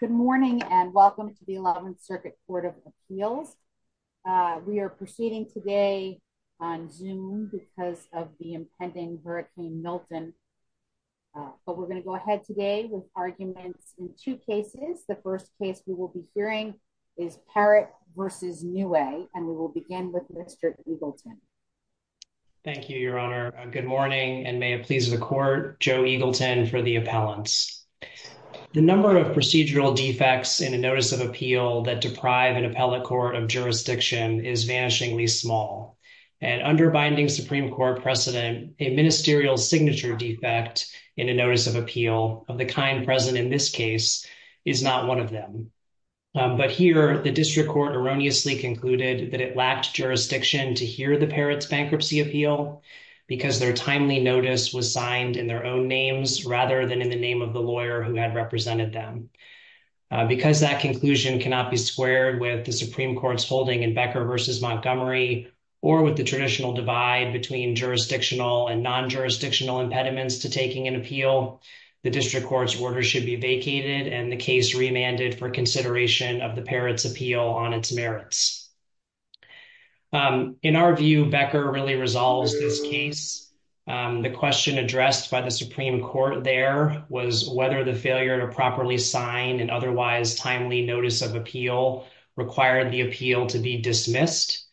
Good morning and welcome to the 11th Circuit Court of Appeals. We are proceeding today on Zoom because of the impending Hurricane Milton. But we're going to go ahead today with arguments in two cases. The first case we will be hearing is Parrott v. Neway and we will begin with Mr. Eagleton. Joe Eagleton Thank you, Your Honor. Good morning and may it please the Court, Joe Eagleton for the appellants. The number of procedural defects in a notice of appeal that deprive an appellate court of jurisdiction is vanishingly small. And under binding Supreme Court precedent, a ministerial signature defect in a notice of appeal of the kind present in this case is not one of them. But here the district court erroneously concluded that it lacked jurisdiction to hear the Parrott's bankruptcy appeal because their timely notice was signed in their own names rather than in the name of the lawyer who had represented them. Because that conclusion cannot be squared with the Supreme Court's holding in Becker v. Montgomery or with the traditional divide between jurisdictional and non-jurisdictional impediments to taking an appeal, the district court's order should be vacated and the case remanded for consideration of the Parrott's appeal on its merits. In our view, Becker really resolves this case. The question addressed by the Supreme Court there was whether the failure to properly sign an otherwise timely notice of appeal required the appeal to be dismissed.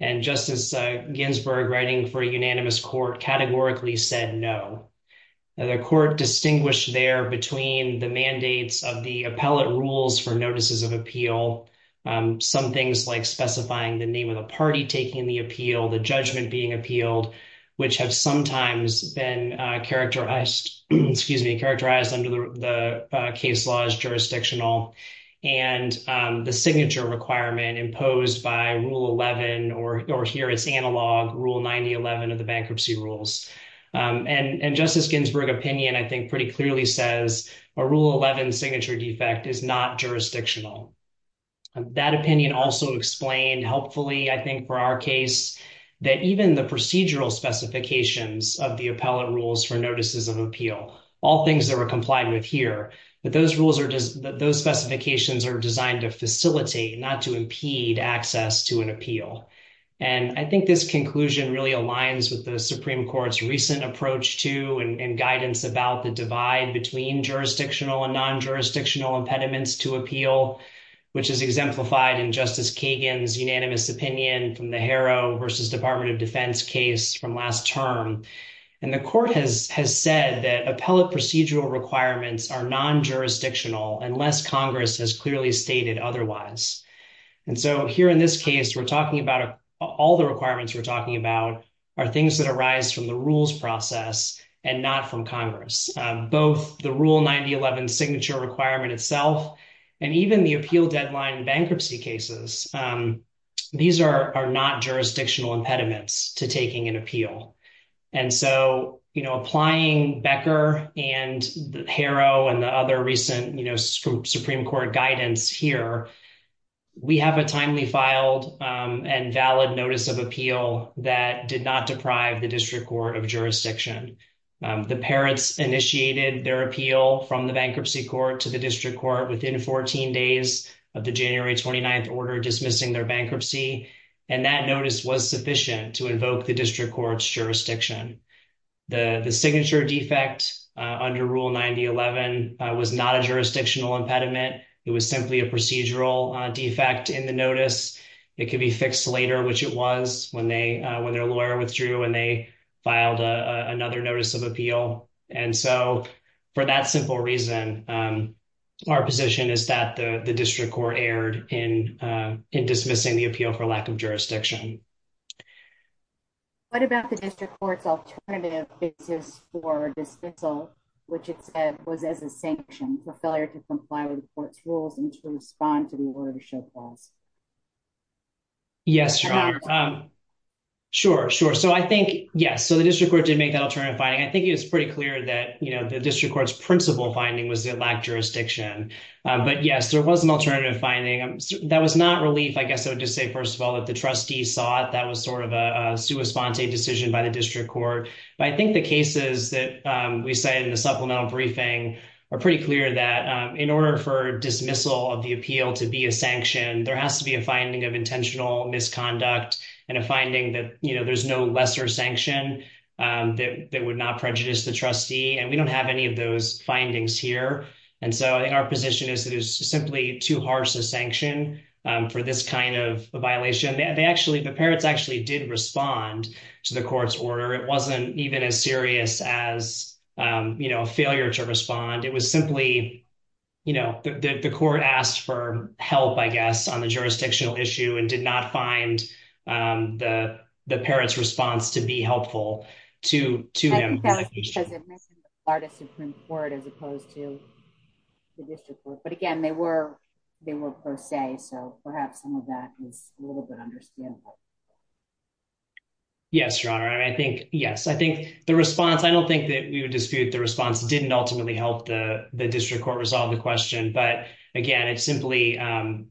And Justice Ginsburg writing for a unanimous court categorically said no. The court distinguished there between the mandates of the appellate rules for notices of appeal, some things like specifying the name of the party taking the appeal, the judgment being appealed, which have sometimes been characterized under the case law as jurisdictional, and the signature requirement imposed by Rule 11 or here it's analog, Rule 9011 of the bankruptcy rules. And Justice Ginsburg opinion, I think, pretty clearly says a Rule 11 signature defect is not jurisdictional. That opinion also explained helpfully, I think, for our case, that even the procedural specifications of the appellate rules for notices of appeal, all things that were complied with here, that those rules are just, that those specifications are designed to facilitate, not to impede access to an appeal. And I think this conclusion really aligns with the Supreme Court's recent approach to and guidance about the divide between jurisdictional and non-jurisdictional impediments to appeal, which is exemplified in Justice Kagan's unanimous opinion from the Harrow v. Department of Defense case from last term. And the court has said that appellate procedural requirements are non-jurisdictional unless Congress has clearly stated otherwise. And so here in this case, we're talking about all the requirements we're talking about are things that arise from the rules process and not from Congress. Both the Rule 9011 signature requirement itself, and even the appeal deadline bankruptcy cases, these are not jurisdictional impediments to taking an appeal. And so, you know, applying Becker and Harrow and the other recent, you know, Supreme Court guidance here, we have a timely filed and valid notice of appeal that did not deprive the district court of jurisdiction. The parrots initiated their appeal from the bankruptcy court to the district court within 14 days of the January 29th order dismissing their bankruptcy. And that notice was sufficient to invoke the district court's jurisdiction. The signature defect under Rule 9011 was not a jurisdictional impediment. It was simply a procedural defect in the notice. It could be fixed later, which it was when they, when their lawyer withdrew and they filed another notice of appeal. And so for that simple reason, our position is that the district court erred in dismissing the appeal for lack of jurisdiction. What about the district court's alternative basis for dismissal, which it said was as a sanction for failure to comply with the court's rules and to respond to the order to show clause? Yes, sure. Sure, sure. So I think, yes, so the district court did make that alternative finding. I think it was pretty clear that, you know, the district court's principle finding was that it lacked jurisdiction. But yes, there was an alternative finding. That was not relief. I guess I would just say, first of all, that the trustee saw it, that was sort of a sua sponte decision by the district court. But I think the cases that we cited in the supplemental briefing are pretty clear that in order for dismissal of the appeal to be a sanction, there has to be a finding of intentional misconduct and a finding that, you know, there's no lesser sanction that would not prejudice the trustee. And we don't have any of those findings here. And so our position is it is simply too harsh a sanction for this kind of a violation. They actually, the parrots actually did respond to the court's order. It wasn't even as serious as, you know, a failure to respond. It was simply, you know, the court asked for help, I guess, on the jurisdictional issue and did not find the parrots response to be helpful to them. Artists Supreme Court as opposed to the district, but again, they were, they were per se. So perhaps some of that is a little bit understandable. Yes, Your Honor, I think, yes, I think the response, I don't think that we would dispute the response didn't ultimately help the district court resolve the question. But again, it's simply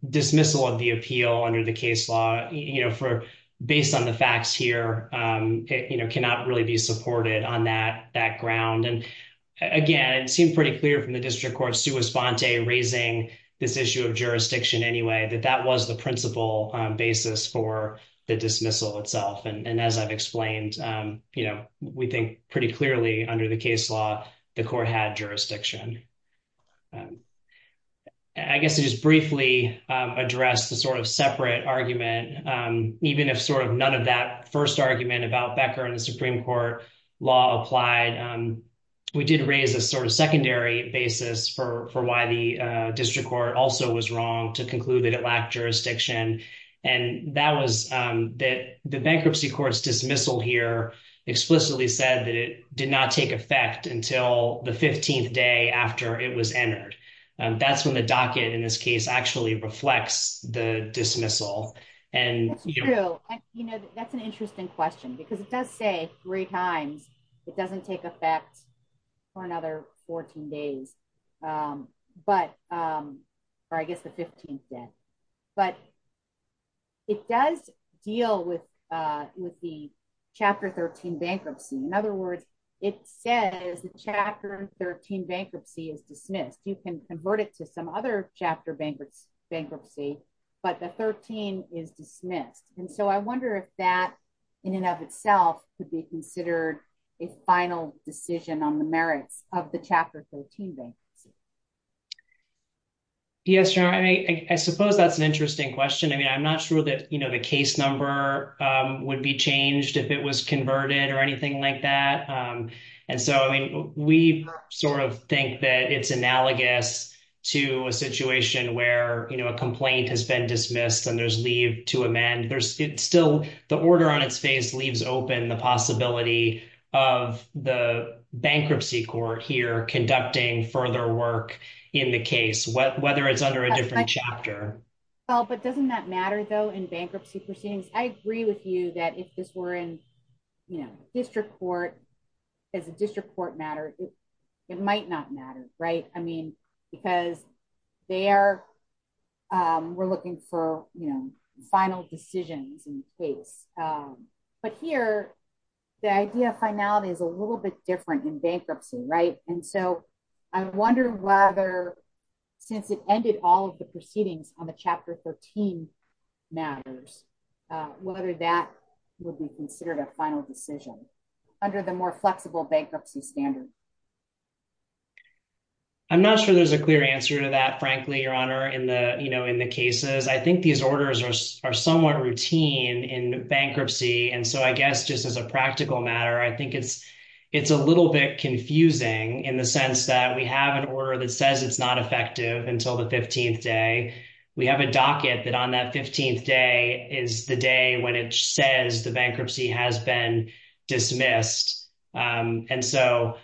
dismissal of the appeal under the case law, you know, for based on the facts here, you know, cannot really be supported on that background. And again, it seemed pretty clear from the district court's sua sponte raising this issue of jurisdiction anyway, that that was the principal basis for the dismissal itself. And as I've explained, you know, we think pretty clearly under the case law, the court had jurisdiction. I guess to just briefly address the sort of about Becker and the Supreme Court law applied. We did raise a sort of secondary basis for for why the district court also was wrong to conclude that it lacked jurisdiction. And that was that the bankruptcy courts dismissal here explicitly said that it did not take effect until the 15th day after it was entered. That's when the docket in this case actually reflects the dismissal. And, you know, that's an interesting question, because it does say three times, it doesn't take effect for another 14 days. But I guess the 15th day, but it does deal with with the chapter 13 bankruptcy. In other words, it says the chapter 13 bankruptcy is dismissed, you can convert it to some other chapter bankruptcy, bankruptcy, but the 13 is dismissed. And so I wonder if that, in and of itself could be considered a final decision on the merits of the chapter 13. Yes, I mean, I suppose that's an interesting question. I mean, I'm not sure that you know, the case number would be changed if it was converted or anything like that. And so I mean, we sort of think that it's analogous to a situation where you know, a complaint has been dismissed and there's leave to amend there's still the order on its face leaves open the possibility of the bankruptcy court here conducting further work in the case what whether it's under a different chapter. Oh, but doesn't that matter, though, in bankruptcy proceedings, I agree with you that if this were in, you know, district court, as a district court matter, it might not matter, right? I mean, because they are, we're looking for, you know, final decisions in case. But here, the idea of finality is a little bit different in bankruptcy, right? And so I wonder whether, since it ended all of the proceedings on the chapter 13 matters, whether that would be considered a final decision under the more flexible bankruptcy standard. I'm not sure there's a clear answer to that, frankly, Your Honor, in the you know, in the cases, I think these orders are somewhat routine in bankruptcy. And so I guess just as a practical matter, I think it's, it's a little bit confusing in the sense that we have an order that says it's not effective until the 15th day, we have a docket that on that 15th day is the day when it says the bankruptcy has been dismissed. And so,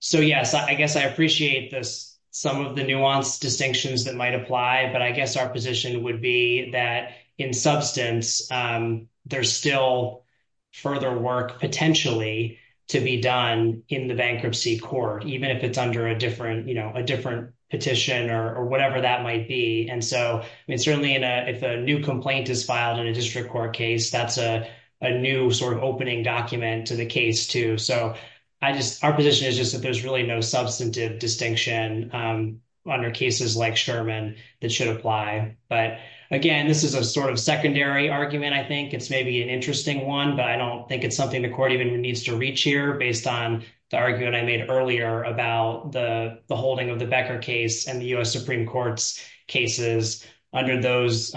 so yes, I guess I appreciate this, some of the nuanced distinctions that might apply. But I guess our position would be that in substance, there's still further work potentially to be done in the bankruptcy court, even if it's under a different, you know, a different petition or whatever that might be. And so, I mean, certainly in a, if a new complaint is filed in a district court case, that's a new sort of opening document to the case too. So I just, our position is just that there's really no substantive distinction under cases like Sherman that should apply. But again, this is a sort of secondary argument. I think it's maybe an interesting one, but I don't think it's something the court even needs to reach here based on the argument I made earlier about the holding of the Becker case and the U.S. Supreme Court's cases under those,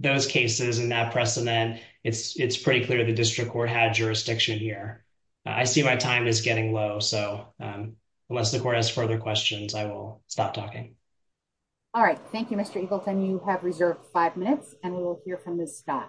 those cases and that precedent, it's, it's pretty clear the district court had jurisdiction here. I see my time is getting low. So unless the court has further questions, I will stop talking. All right. Thank you, Mr. Eagleton. You have reserved five minutes and we will hear from Ms. Scott.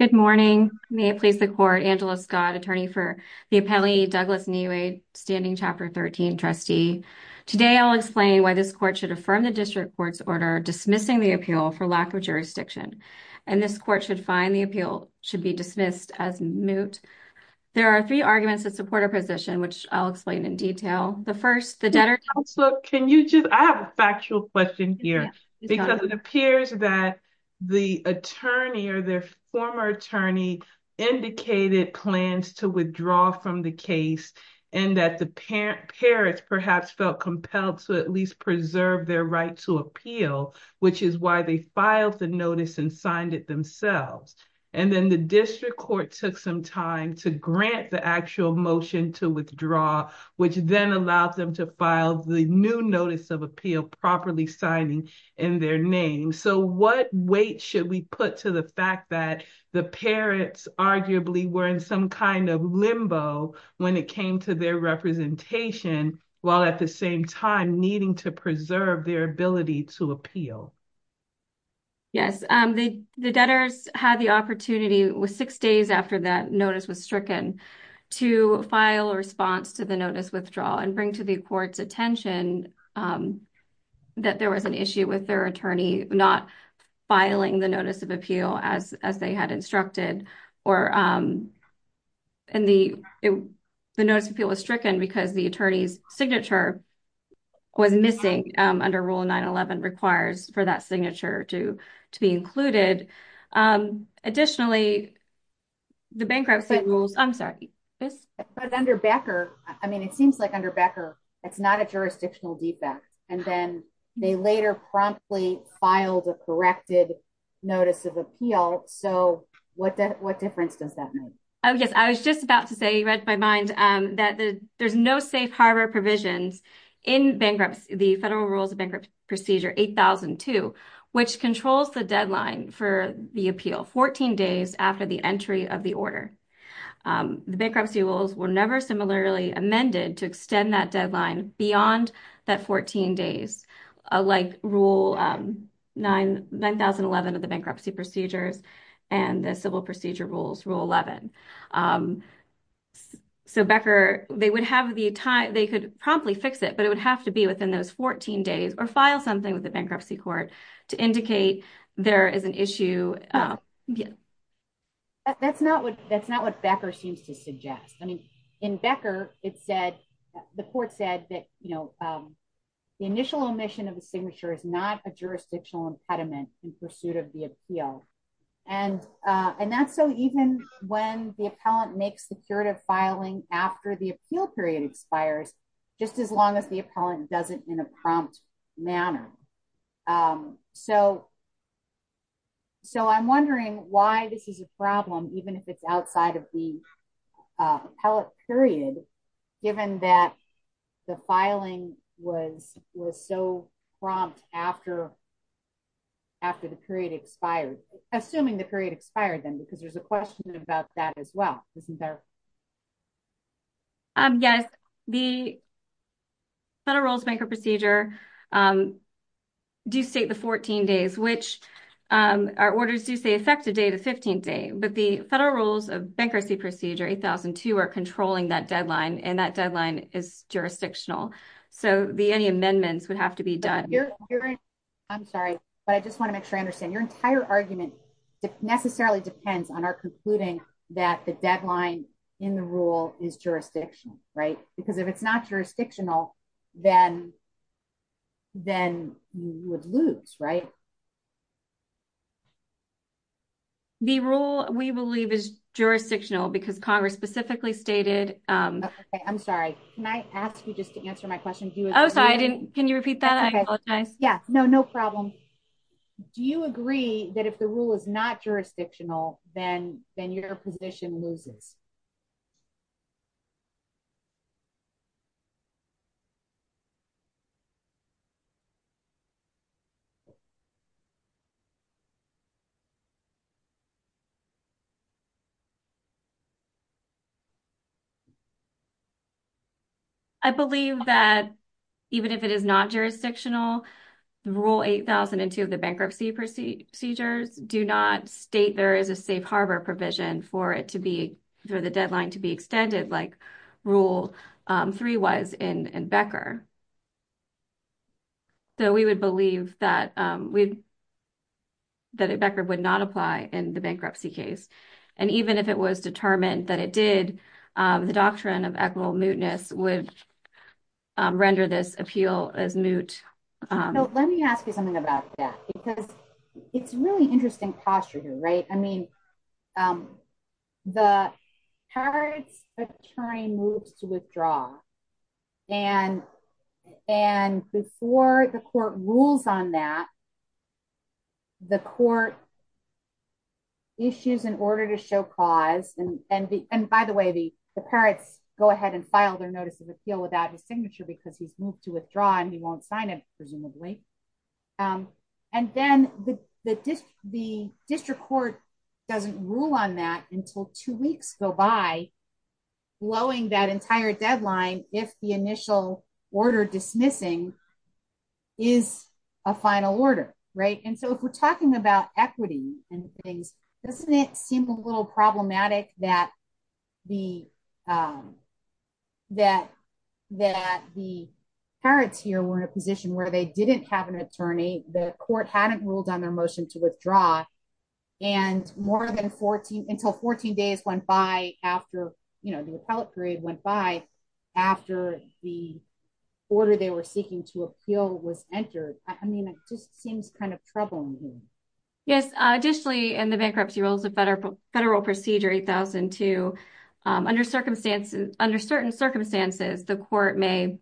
Good morning. May it please the court, Angela Scott, attorney for the appellee, Douglas Neway, standing chapter 13 trustee. Today, I'll explain why this court should affirm the district court's order dismissing the appeal for lack of jurisdiction. And this court should find the appeal should be dismissed as moot. There are three arguments that support our position, which I'll explain in detail. The first, the debtor- Can you just, I have a factual question here because it appears that the attorney or their former attorney indicated plans to withdraw from the case and that the parent, parents perhaps felt compelled to at least preserve their right to appeal, which is why they filed the notice and signed it themselves. And then the district court took some time to grant the actual motion to withdraw, which then allowed them to file the new notice of appeal properly signing in their name. So what weight should we put to the fact that the parents arguably were in some kind of limbo when it came to their representation while at the same time needing to preserve their ability to appeal? Yes. The debtors had the opportunity with six days after that notice was stricken to file a response to the notice withdrawal and bring to the court's attention that there was an issue with their attorney not filing the notice of appeal as they had instructed or the notice of appeal was stricken because the attorney's signature was missing under Rule 9-11 requires for that signature to be included. Additionally, the bankruptcy rules, I'm sorry. But under Becker, I mean, it seems like under Becker, it's not a jurisdictional defect. And then they later promptly filed a corrected notice of appeal. So what difference does that make? Oh, yes. I was just about to say, you read my mind, that there's no safe harbor provisions in bankruptcy, the Federal Rules of the Order. The bankruptcy rules were never similarly amended to extend that deadline beyond that 14 days, like Rule 9-11 of the bankruptcy procedures and the civil procedure rules, Rule 11. So Becker, they would have the time, they could probably fix it, but it would have to be within those 14 days or file something with the bankruptcy court to indicate there is an issue. That's not what that's not what Becker seems to suggest. I mean, in Becker, it said, the court said that, you know, the initial omission of the signature is not a jurisdictional impediment in pursuit of the appeal. And, and that's so even when the appellant makes the curative filing after the appeal period expires, just as long as the appellant doesn't in a prompt manner. So, so I'm wondering why this is a problem, even if it's outside of the appellate period, given that the filing was was so prompt after, after the period expired, assuming the period expired, then because there's a question about that as well, isn't there? Yes, the Federal Rules of Bankruptcy Procedure do state the 14 days, which our orders do say effective date of 15th day, but the Federal Rules of Bankruptcy Procedure 8002 are controlling that deadline and that deadline is jurisdictional. So the any amendments would have to be done. I'm sorry, but I just want to make sure I understand your entire argument necessarily depends on our concluding that the deadline in the rule is jurisdictional, right? Because if it's not jurisdictional, then, then you would lose, right? The rule we believe is jurisdictional because Congress specifically stated, I'm sorry, can I ask you just to answer my question? Do you? Oh, sorry, I didn't. Can rule is not jurisdictional, then, then your position loses? I believe that even if it is not jurisdictional, rule 8002 of the bankruptcy procedures do not state there is a safe harbor provision for it to be, for the deadline to be extended like rule three was in Becker. So we would believe that we, that Becker would not apply in the bankruptcy case. And even if it was determined that it did, the doctrine of equitable mootness would render this appeal as moot. No, let me ask you something about that. Because it's really interesting posture here, right? I mean, the parents attorney moves to withdraw. And, and before the court rules on that, the court issues in order to show cause and, and the and by the way, the parents go ahead and file their notice of appeal without his signature, because he's moved to withdraw, and he won't sign it, presumably. And then the, the, the district court doesn't rule on that until two weeks go by blowing that entire deadline, if the initial order dismissing is a final order, right. And so if we're talking about equity and things, doesn't it seem a little problematic that the that, that the parents here were in a position where they didn't have an attorney, the court hadn't ruled on their motion to withdraw. And more than 14 until 14 days went by after, you know, the appellate period went by after the order they were seeking to appeal was entered. I mean, it just seems kind of troubling. Yes, additionally, in the bankruptcy rules of federal federal procedure 8002, under circumstances, under certain circumstances, the court may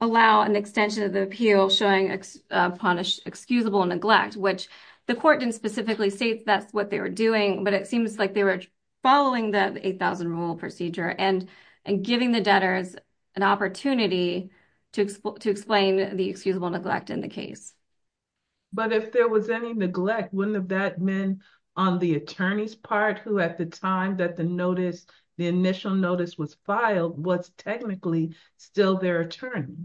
allow an extension of the appeal showing a punished excusable neglect, which the court didn't specifically say that's what they were doing. But it seems like they were following that 8000 rule procedure and, and giving the debtors an opportunity to explain the excusable neglect in the case. But if there was any neglect, wouldn't have that been on the attorney's part who at the time that the notice, the initial notice was filed was technically still their attorney?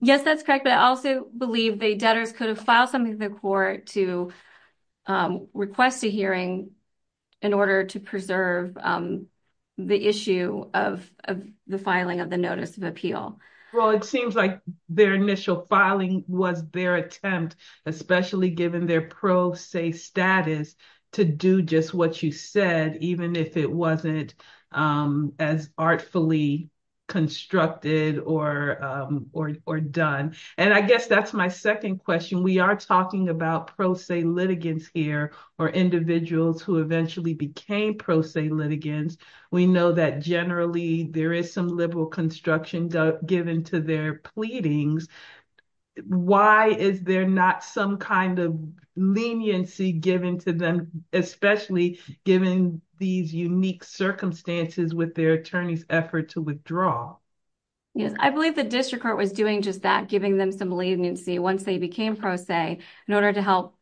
Yes, that's correct. But I also believe the debtors could have filed something in the court to request a hearing in order to preserve the issue of the filing of the notice of appeal. Well, it seems like their initial filing was their attempt, especially given their pro se status to do just what you said, even if it wasn't as artfully constructed or, or done. And I guess that's my second question. We are talking about pro se litigants here, or individuals who eventually became pro se litigants. We know that generally there is some liberal construction given to their pleadings. Why is there not some kind of leniency given to them, especially given these unique circumstances with their attorney's effort to withdraw? Yes, I believe the district court was doing just that giving them some leniency once they became pro se in order to help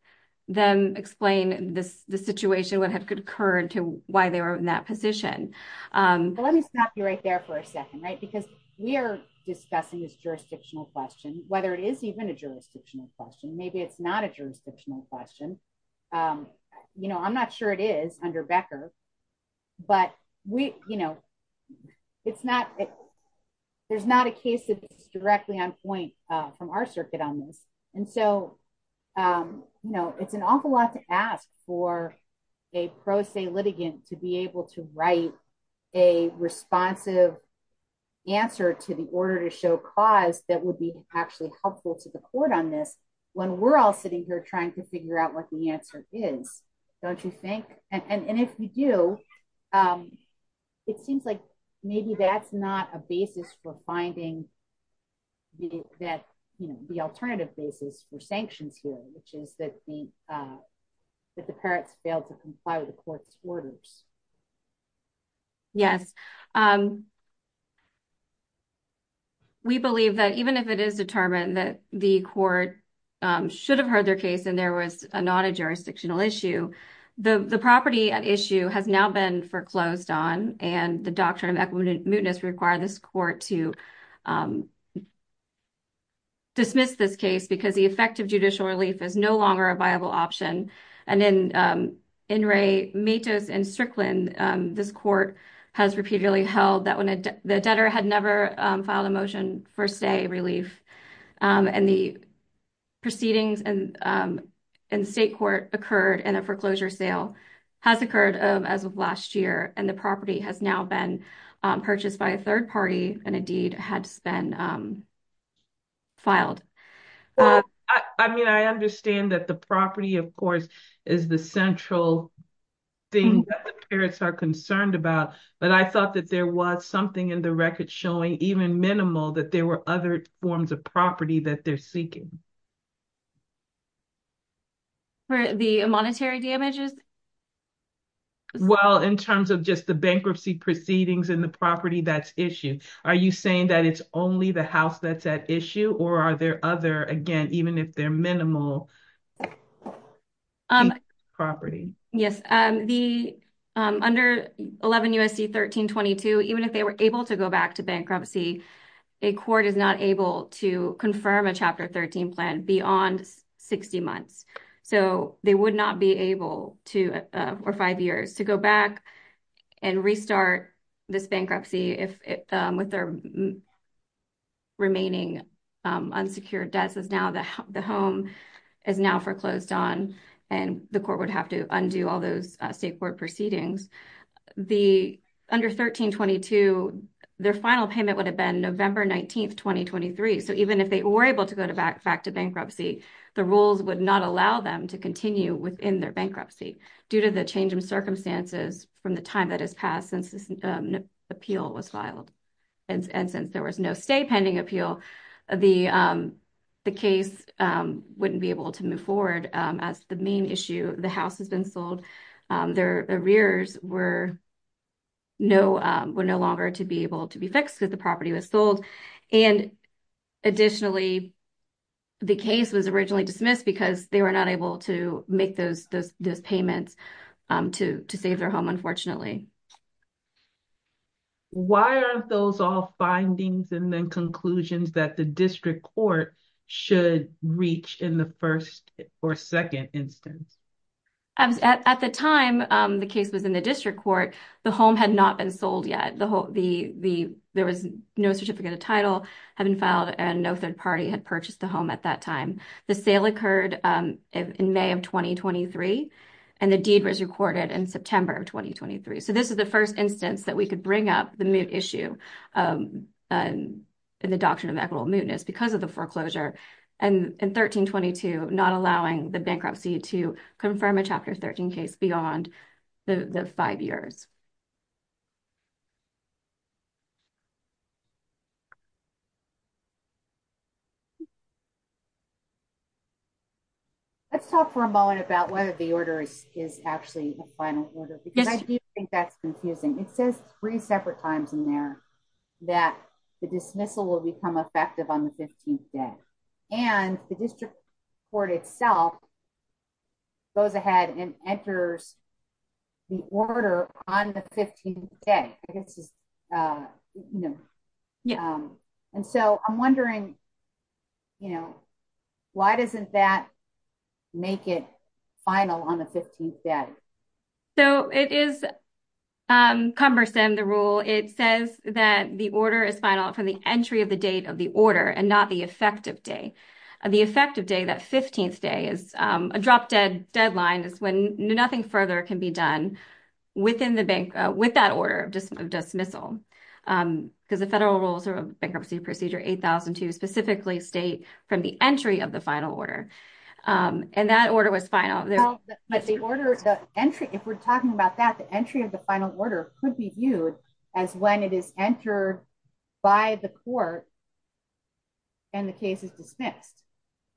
them explain this, the situation would have concurred to why they were in that position. But let me stop you right there for a second, right? Because we are discussing this jurisdictional question, whether it is even a jurisdictional question, maybe it's not a jurisdictional question. You know, I'm not sure it is under Becker. But we, you know, it's not, there's not a case that is directly on point from our circuit on this. And so, you know, it's an awful lot to ask for a pro se litigant to be able to write a responsive answer to the order to show cause that would be actually helpful to the court on this, when we're all sitting here trying to figure out what the answer is, don't you think and if you do, it seems like maybe that's not a basis for finding that, you know, the alternative basis for sanctions here, which is that the that the parents failed to comply with the court's orders. Yes. We believe that even if it is determined that the court should have heard their case and there was a non-jurisdictional issue, the property at issue has now been foreclosed on and the doctrine of equimuteness require this court to dismiss this case because the effective judicial relief is no longer a viable option. And then in Ray Matos and Strickland, this court has repeatedly held that when the debtor had never filed a motion for stay relief and the proceedings and in state court occurred and a foreclosure sale has occurred as of last year and the property has now been purchased by a third party and a deed has been filed. I mean, I understand that the property, of course, is the central thing that the parents are concerned about, but I thought that there was something in the record showing even minimal that there were other forms of property that they're seeking. For the monetary damages? Well, in terms of just the bankruptcy proceedings and the property that's issued, are you saying that it's only the house that's at issue or are there other, again, even if they're minimal property? Yes, the under 11 U.S.C. 1322, even if they were to go back to bankruptcy, a court is not able to confirm a Chapter 13 plan beyond 60 months. So they would not be able to, for five years, to go back and restart this bankruptcy with their remaining unsecured debts. The home is now foreclosed on and the court would have to do all those state court proceedings. Under 1322, their final payment would have been November 19, 2023. So even if they were able to go back to bankruptcy, the rules would not allow them to continue within their bankruptcy due to the change in circumstances from the time that has passed since this appeal was filed. And since there was no stay pending appeal, the case wouldn't be able to move forward as the main issue. The house has been sold. Their arrears were no longer to be able to be fixed because the property was sold. And additionally, the case was originally dismissed because they were not able to make those payments to save their home, unfortunately. Why are those all findings and then conclusions that the district court should reach in the first or second instance? At the time the case was in the district court, the home had not been sold yet. There was no certificate of title had been filed and no third party had purchased the home at that time. The sale occurred in May of 2023 and the deed was recorded in September of 2023. So the deed was recorded. So this is the first instance that we could bring up the moot issue and the doctrine of equitable mootness because of the foreclosure and in 1322, not allowing the bankruptcy to confirm a chapter 13 case beyond the five years. Let's talk for a moment about whether the order is actually a final order because I do think it says three separate times in there that the dismissal will become effective on the 15th day and the district court itself goes ahead and enters the order on the 15th day. And so I'm wondering, you know, why doesn't that make it final on the 15th day? So it is cumbersome, the rule. It says that the order is final from the entry of the date of the order and not the effective day. The effective day, that 15th day, is a drop dead deadline is when nothing further can be done within the bank with that order of dismissal because the federal rules of bankruptcy procedure 8002 specifically state from the entry of the entry. If we're talking about that, the entry of the final order could be viewed as when it is entered by the court and the case is dismissed,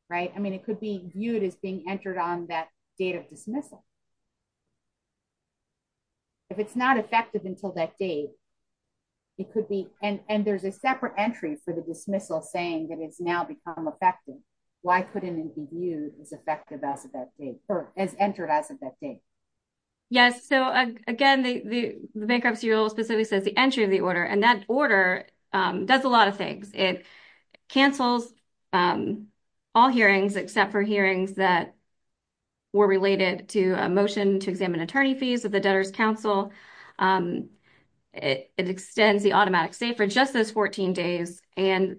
right? I mean, it could be viewed as being entered on that date of dismissal. If it's not effective until that date, it could be and there's a separate entry for the dismissal saying that it's now become effective. Why couldn't it be is effective as of that date or as entered as of that date? Yes, so again, the bankruptcy rule specifically says the entry of the order and that order does a lot of things. It cancels all hearings except for hearings that were related to a motion to examine attorney fees of the debtors council. It extends the automatic stay for just those 14 days and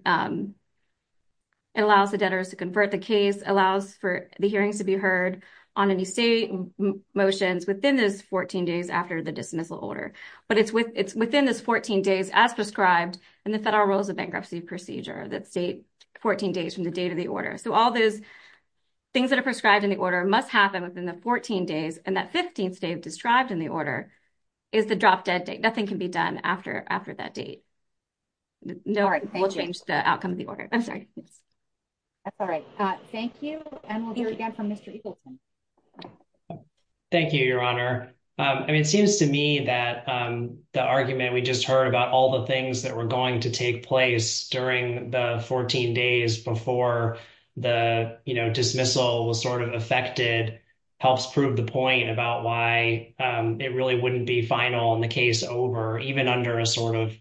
it allows the debtors to convert the case, allows for the hearings to be heard on any state motions within those 14 days after the dismissal order. But it's within those 14 days as prescribed in the federal rules of bankruptcy procedure that state 14 days from the date of the order. So all those things that are prescribed in the order must happen within the 14 days and that 15th day described in the order is the drop dead date. Nothing can be done after that date. No, we'll change the outcome of the order. I'm sorry. That's all right. Thank you. And we'll hear again from Mr. Eagleton. Thank you, your honor. I mean, it seems to me that the argument we just heard about all the things that were going to take place during the 14 days before the dismissal was sort of affected helps prove the point about why it really wouldn't be final in the case over even under a sort of,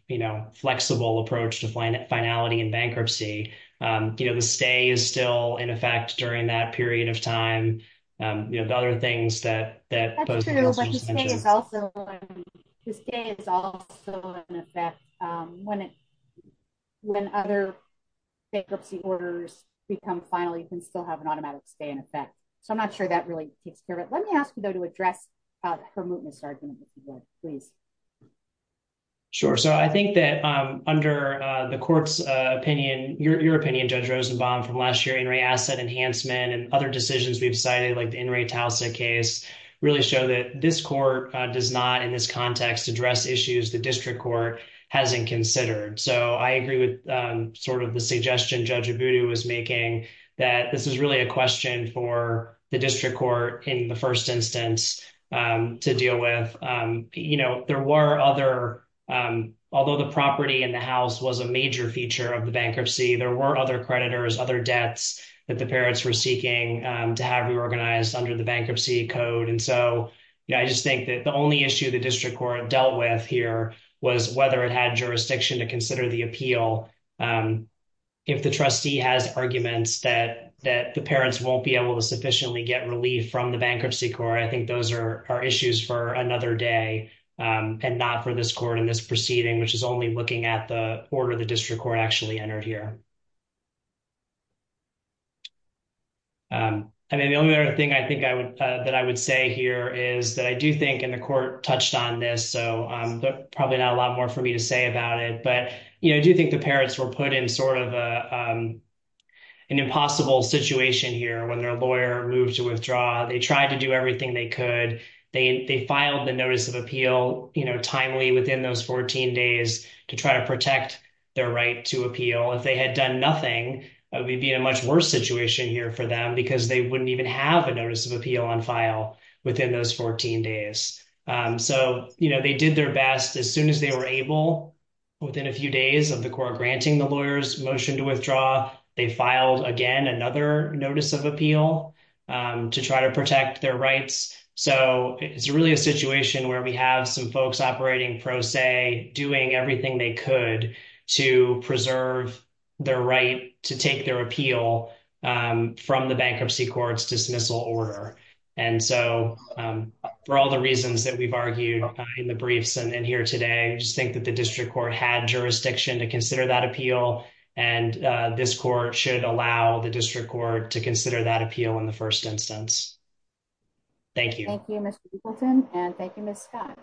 flexible approach to finality in bankruptcy. The stay is still in effect during that period of time. The other things that- That's true, but the stay is also an effect when other bankruptcy orders become final, you can still have an automatic stay in effect. So I'm not sure that really takes care of it. Let me ask you though to address her mootness argument, if you would, please. Sure. So I think that under the court's opinion, your opinion, Judge Rosenbaum, from last year, In re Asset Enhancement and other decisions we've cited, like the In re Towsett case, really show that this court does not, in this context, address issues the district court hasn't considered. So I agree with sort of the suggestion Judge Abudu was making that this is really a question for the district court in the first instance to deal with. There were other- Although the property in the house was a major feature of the bankruptcy, there were other creditors, other debts that the parents were seeking to have reorganized under the bankruptcy code. And so I just think that the only issue the district court dealt with here was whether it had jurisdiction to consider the appeal. If the trustee has arguments that the parents won't be able to sufficiently get relief from the bankruptcy court, I think those are issues for another day and not for this court in this proceeding, which is only looking at the order the district court actually entered here. I mean, the only other thing I think that I would say here is that I do think, and the court touched on this, so probably not a lot more for me to say about it, but I do think the parents were put in sort of an impossible situation here when their lawyer moved to withdraw. They tried to do everything they could. They filed the notice of appeal timely within those 14 days to try to protect their right to appeal. If they had done nothing, it would be a much worse situation here for them because they wouldn't even have a notice of appeal on file within those 14 days. So they did their best. As soon as they were able, within a few days of the court granting the lawyer's motion to withdraw, they filed again another notice of appeal to try to protect their rights. So it's really a situation where we have some folks operating pro se, doing everything they could to preserve their right to take their appeal from the bankruptcy court's dismissal order. And so for all the reasons that we've argued in the briefs and here today, I just think that the court should allow the district court to consider that appeal in the first instance. Thank you. Thank you, Mr. Eagleton, and thank you, Ms. Scott.